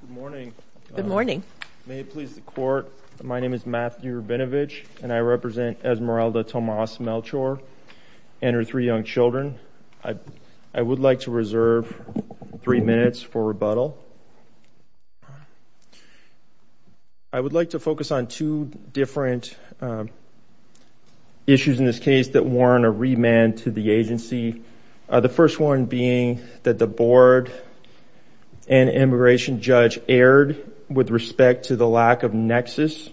Good morning. Good morning. May it please the Court, my name is Matthew Rabinovich, and I represent Esmeralda Tomas-Melchor and her three young children. I would like to reserve three minutes for rebuttal. I would like to focus on two different issues in this case that warrant a remand to the agency, the first one being that the board and immigration judge erred with respect to the lack of nexus,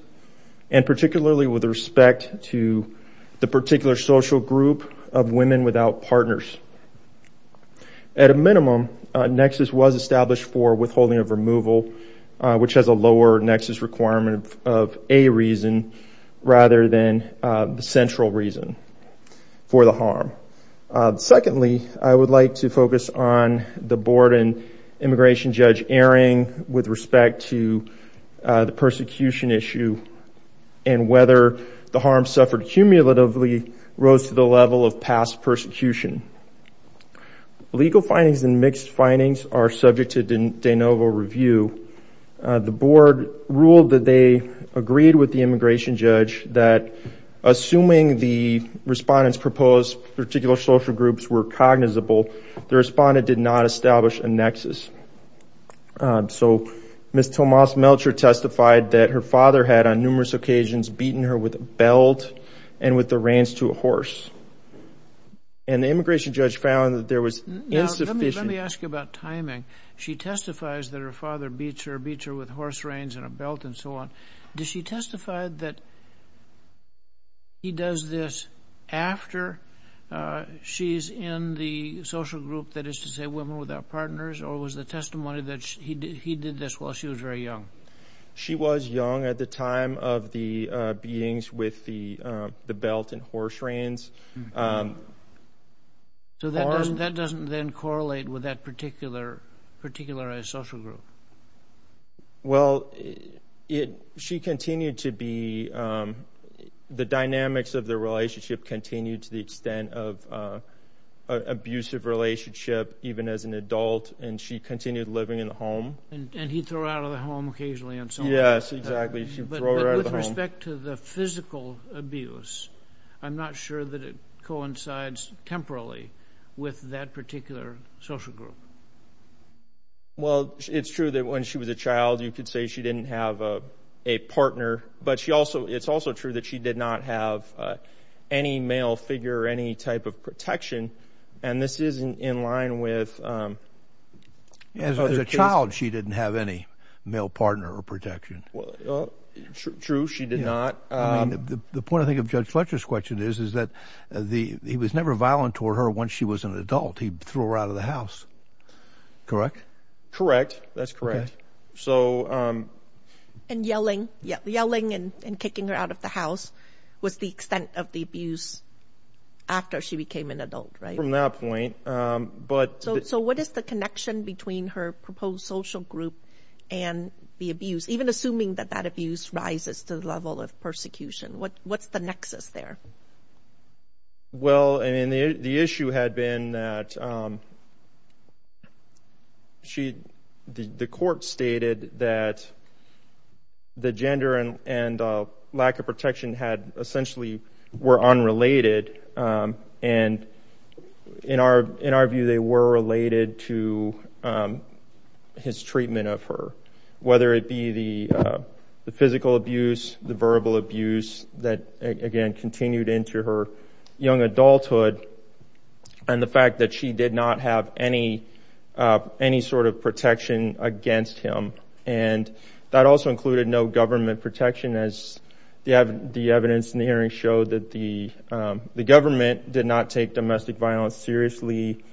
and particularly with respect to the particular social group of women without partners. At a minimum, nexus was established for withholding of removal, which has a lower nexus requirement of a reason rather than the central reason for the harm. Secondly, I would like to focus on the board and immigration judge erring with respect to the persecution issue and whether the harm suffered cumulatively rose to the level of past persecution. Legal findings and mixed findings are subject to de novo review. The board ruled that they agreed with the immigration judge that, assuming the respondents' proposed particular social groups were cognizable, the respondent did not establish a nexus. So Ms. Tomas-Melchor testified that her father had, on numerous occasions, beaten her with a belt and with the reins to a horse. And the immigration judge found that there was insufficient— Let me ask you about timing. She testifies that her father beats her, beats her with horse reins and a belt and so on. Does she testify that he does this after she's in the social group that is to say women without partners, or was the testimony that he did this while she was very young? She was young at the time of the beatings with the belt and horse reins. So that doesn't then correlate with that particular social group. Well, she continued to be—the dynamics of the relationship continued to the extent of abusive relationship, even as an adult, and she continued living in the home. And he'd throw her out of the home occasionally. Yes, exactly. She'd throw her out of the home. But with respect to the physical abuse, I'm not sure that it coincides temporally with that particular social group. Well, it's true that when she was a child, you could say she didn't have a partner, but it's also true that she did not have any male figure or any type of protection, and this is in line with— As a child, she didn't have any male partner or protection. True, she did not. The point, I think, of Judge Fletcher's question is that he was never violent toward her once she was an adult. He threw her out of the house. Correct? Correct. That's correct. And yelling and kicking her out of the house was the extent of the abuse after she became an adult, right? From that point. So what is the connection between her proposed social group and the abuse, even assuming that that abuse rises to the level of persecution? What's the nexus there? Well, the issue had been that the court stated that the gender and lack of protection essentially were unrelated. And in our view, they were related to his treatment of her, whether it be the physical abuse, the verbal abuse that, again, continued into her young adulthood, and the fact that she did not have any sort of protection against him. And that also included no government protection, as the evidence in the hearing showed that the government did not take domestic violence seriously.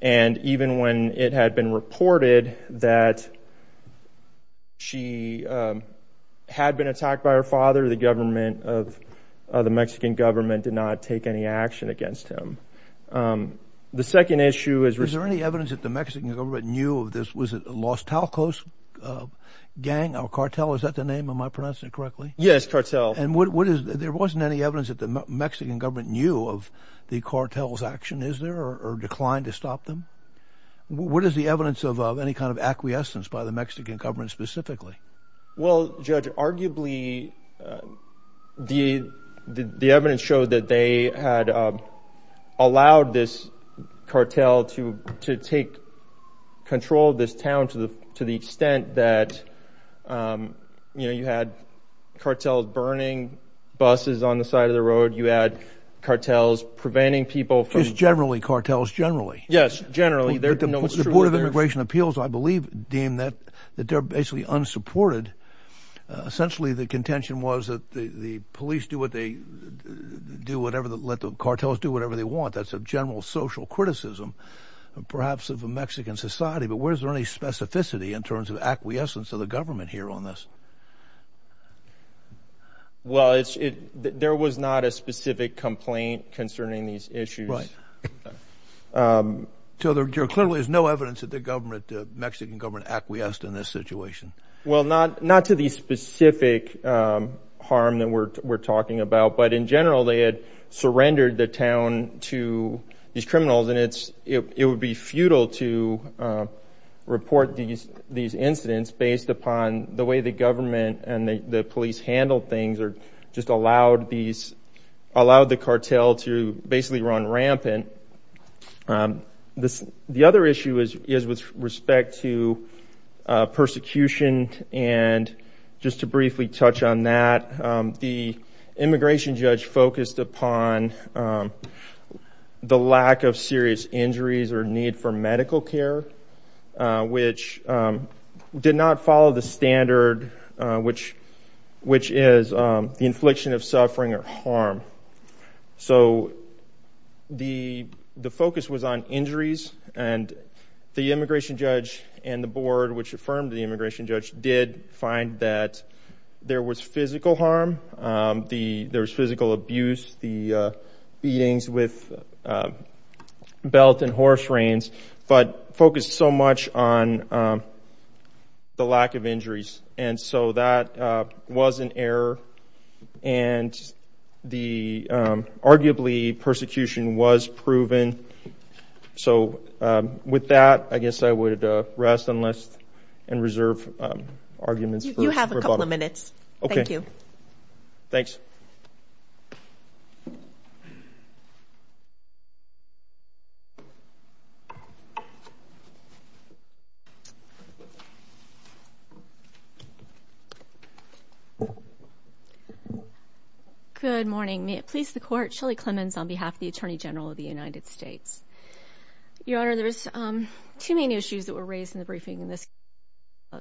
And even when it had been reported that she had been attacked by her father, the government of the Mexican government did not take any action against him. The second issue is— Is there any evidence that the Mexican government knew of this? Was it the Los Talcos gang or cartel? Cartel, is that the name? Am I pronouncing it correctly? Yes, cartel. And what is—there wasn't any evidence that the Mexican government knew of the cartel's action, is there, or declined to stop them? What is the evidence of any kind of acquiescence by the Mexican government specifically? Well, Judge, arguably the evidence showed that they had allowed this cartel to take control of this town to the extent that, you know, you had cartels burning buses on the side of the road, you had cartels preventing people from— Just generally, cartels generally. Yes, generally. The Board of Immigration Appeals, I believe, deemed that they're basically unsupported. Essentially, the contention was that the police do whatever they—let the cartels do whatever they want. That's a general social criticism, perhaps, of a Mexican society. But was there any specificity in terms of acquiescence of the government here on this? Well, there was not a specific complaint concerning these issues. So there clearly is no evidence that the Mexican government acquiesced in this situation? Well, not to the specific harm that we're talking about, but in general they had surrendered the town to these criminals, and it would be futile to report these incidents based upon the way the government and the police handled things or just allowed the cartel to basically run rampant. The other issue is with respect to persecution, and just to briefly touch on that, the immigration judge focused upon the lack of serious injuries or need for medical care, which did not follow the standard, which is the infliction of suffering or harm. So the focus was on injuries, and the immigration judge and the board, which affirmed the immigration judge, did find that there was physical harm, there was physical abuse, the beatings with belt and horse reins, but focused so much on the lack of injuries. And so that was an error, and the—arguably, persecution was proven. So with that, I guess I would rest and reserve arguments. You have a couple of minutes. Thank you. Thanks. Good morning. May it please the Court, Shelley Clemons on behalf of the Attorney General of the United States. Your Honor, there's two main issues that were raised in the briefing in this case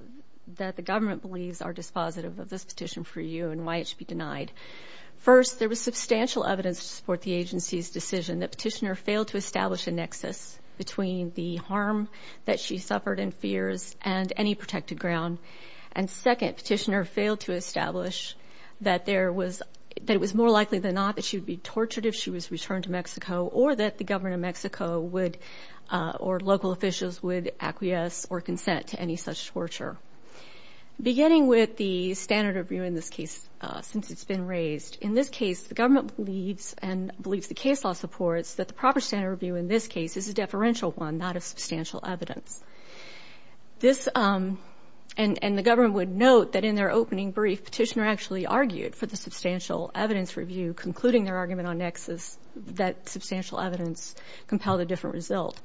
that the government believes are dispositive of this petition for you and why it should be denied. First, there was substantial evidence to support the agency's decision that Petitioner failed to establish a nexus between the harm that she suffered and fears and any protected ground. And second, Petitioner failed to establish that there was—that it was more likely than not that she would be tortured if she was returned to Mexico or that the government of Mexico would—or local officials would acquiesce or consent to any such torture. Beginning with the standard of view in this case, since it's been raised, in this case, the government believes and believes the case law supports that the proper standard of view in this case is a deferential one, not of substantial evidence. This—and the government would note that in their opening brief, Petitioner actually argued for the substantial evidence review, concluding their argument on nexus that substantial evidence compelled a different result.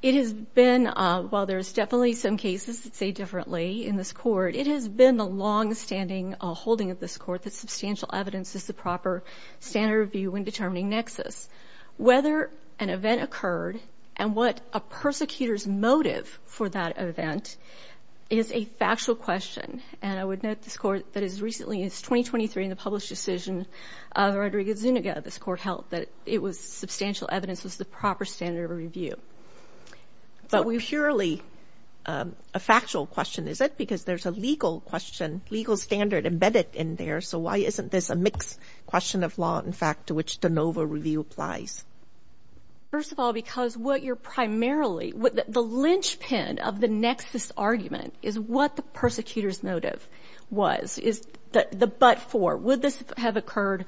It has been—while there's definitely some cases that say differently in this Court, it has been the longstanding holding of this Court that substantial evidence is the proper standard of view when determining nexus. Whether an event occurred and what a persecutor's motive for that event is a factual question. And I would note this Court that as recently as 2023 in the published decision of Rodriguez-Zuniga, this Court held that it was substantial evidence was the proper standard of review. But we— It's not purely a factual question, is it? Because there's a legal question, legal standard embedded in there. So why isn't this a mixed question of law, in fact, to which de novo review applies? First of all, because what you're primarily— the linchpin of the nexus argument is what the persecutor's motive was, is the but for. Would this have occurred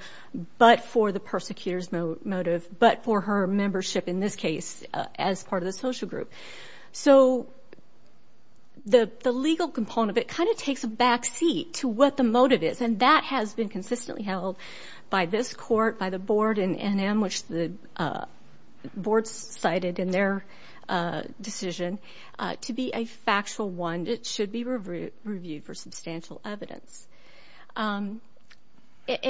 but for the persecutor's motive, but for her membership in this case as part of the social group? So the legal component of it kind of takes a backseat to what the motive is, and that has been consistently held by this Court, by the Board, and in which the Board's cited in their decision to be a factual one. It should be reviewed for substantial evidence. And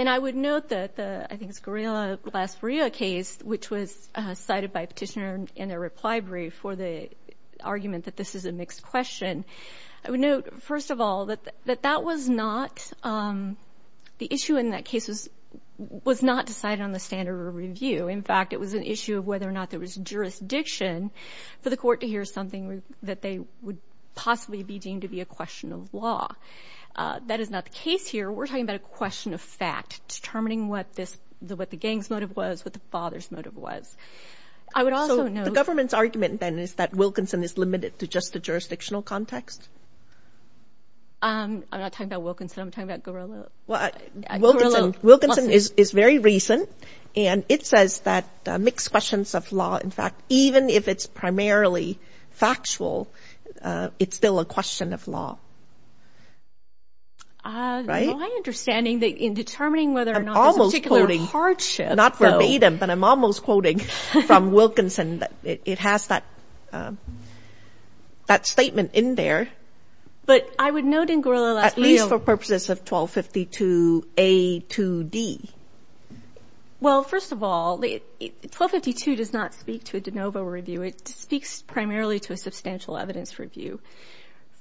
I would note that the—I think it's Guerrilla-Glasperilla case, which was cited by a petitioner in a reply brief for the argument that this is a mixed question. I would note, first of all, that that was not—the issue in that case was not decided on the standard of review. In fact, it was an issue of whether or not there was jurisdiction for the Court to hear something that they would possibly be deemed to be a question of law. That is not the case here. We're talking about a question of fact, determining what the gang's motive was, what the father's motive was. I would also note— So the government's argument, then, is that Wilkinson is limited to just the jurisdictional context? I'm not talking about Wilkinson. I'm talking about Guerrilla-Glasperilla. Wilkinson is very recent, and it says that mixed questions of law, in fact, even if it's primarily factual, it's still a question of law. Right? My understanding, in determining whether or not there's a particular hardship— Not verbatim, but I'm almost quoting from Wilkinson. It has that statement in there. But I would note in Guerrilla-Glasperilla— At least for purposes of 1252a to d. Well, first of all, 1252 does not speak to a de novo review. It speaks primarily to a substantial evidence review.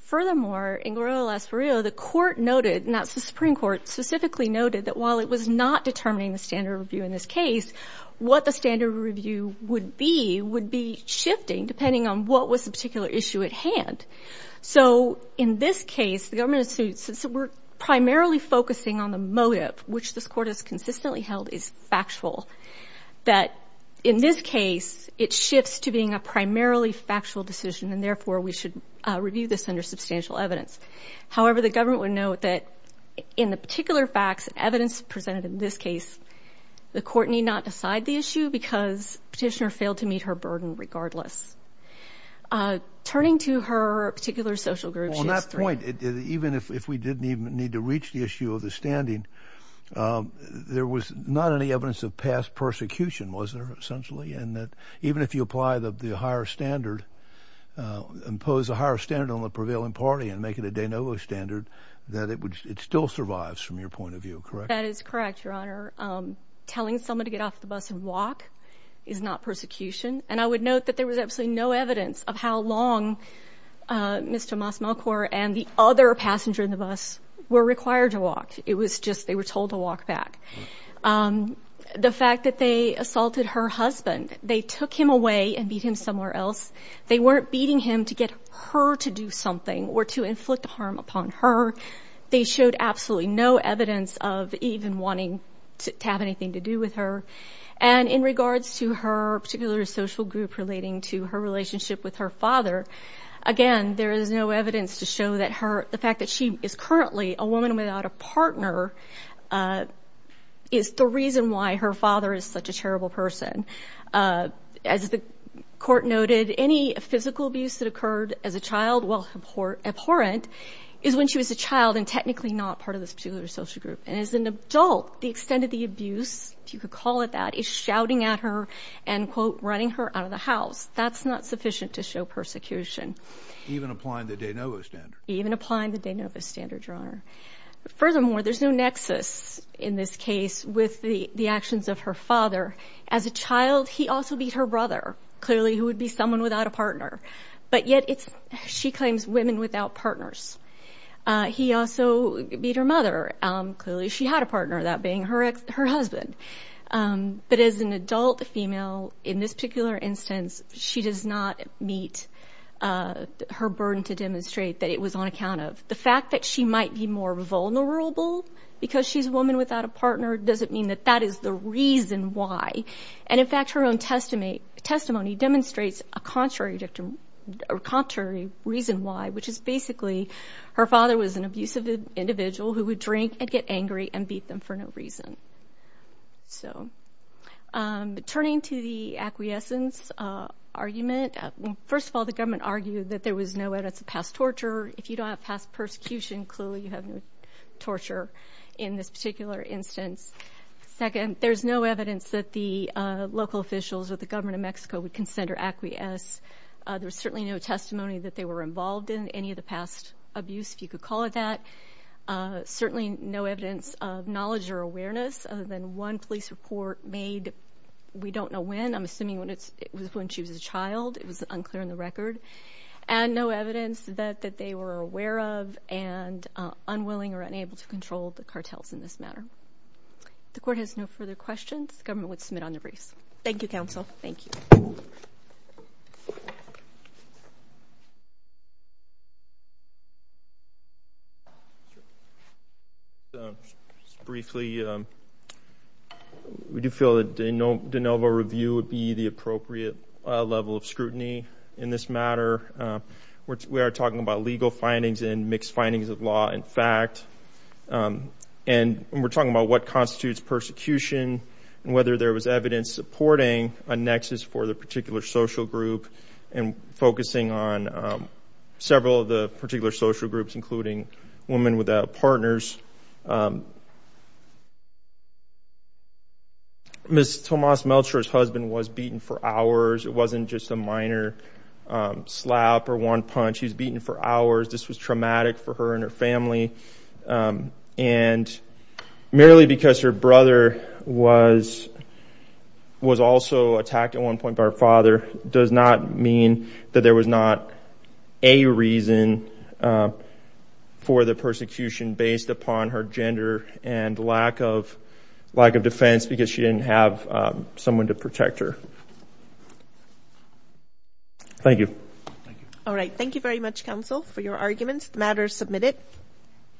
Furthermore, in Guerrilla-Glasperilla, the Court noted, and that's the Supreme Court, specifically noted that while it was not determining the standard of review in this case, what the standard of review would be would be shifting depending on what was the particular issue at hand. So in this case, since we're primarily focusing on the motive, which this Court has consistently held is factual, that in this case it shifts to being a primarily factual decision, and therefore we should review this under substantial evidence. However, the government would note that in the particular facts, evidence presented in this case, the Court need not decide the issue because petitioner failed to meet her burden regardless. Turning to her particular social group— On that point, even if we didn't even need to reach the issue of the standing, there was not any evidence of past persecution, was there, essentially? And that even if you apply the higher standard, impose a higher standard on the prevailing party and make it a de novo standard, that it would—it still survives from your point of view, correct? That is correct, Your Honor. Telling someone to get off the bus and walk is not persecution. And I would note that there was absolutely no evidence of how long Mr. Mas-Malcor and the other passenger in the bus were required to walk. It was just they were told to walk back. The fact that they assaulted her husband, they took him away and beat him somewhere else. They weren't beating him to get her to do something or to inflict harm upon her. They showed absolutely no evidence of even wanting to have anything to do with her. And in regards to her particular social group relating to her relationship with her father, again, there is no evidence to show that the fact that she is currently a woman without a partner is the reason why her father is such a terrible person. As the court noted, any physical abuse that occurred as a child while abhorrent is when she was a child and technically not part of this particular social group. And as an adult, the extent of the abuse, if you could call it that, is shouting at her and, quote, running her out of the house. That's not sufficient to show persecution. Even applying the de novo standard. Even applying the de novo standard, Your Honor. Furthermore, there's no nexus in this case with the actions of her father. As a child, he also beat her brother, clearly who would be someone without a partner. But yet she claims women without partners. He also beat her mother. Clearly she had a partner, that being her husband. But as an adult female, in this particular instance, she does not meet her burden to demonstrate that it was on account of. The fact that she might be more vulnerable because she's a woman without a partner doesn't mean that that is the reason why. And, in fact, her own testimony demonstrates a contrary reason why, which is basically her father was an abusive individual who would drink and get angry and beat them for no reason. Turning to the acquiescence argument, first of all, the government argued that there was no way to surpass torture. If you don't have past persecution, clearly you have no torture in this particular instance. Second, there's no evidence that the local officials or the government of Mexico would consent or acquiesce. There's certainly no testimony that they were involved in any of the past abuse, if you could call it that. Certainly no evidence of knowledge or awareness other than one police report made, we don't know when, I'm assuming it was when she was a child. It was unclear in the record. And no evidence that they were aware of and unwilling or unable to control the cartels in this matter. If the court has no further questions, the government would submit on the briefs. Thank you, counsel. Thank you. Briefly, we do feel that de novo review would be the appropriate level of scrutiny in this matter. We are talking about legal findings and mixed findings of law and fact. And we're talking about what constitutes persecution and whether there was evidence supporting a nexus for the particular social group and focusing on several of the particular social groups, including women without partners. Ms. Tomas Melcher's husband was beaten for hours. It wasn't just a minor slap or one punch. He was beaten for hours. This was traumatic for her and her family. And merely because her brother was also attacked at one point by her father does not mean that there was not a reason for the persecution based upon her gender and lack of defense because she didn't have someone to protect her. Thank you. All right. Thank you very much, counsel, for your arguments. The matter is submitted.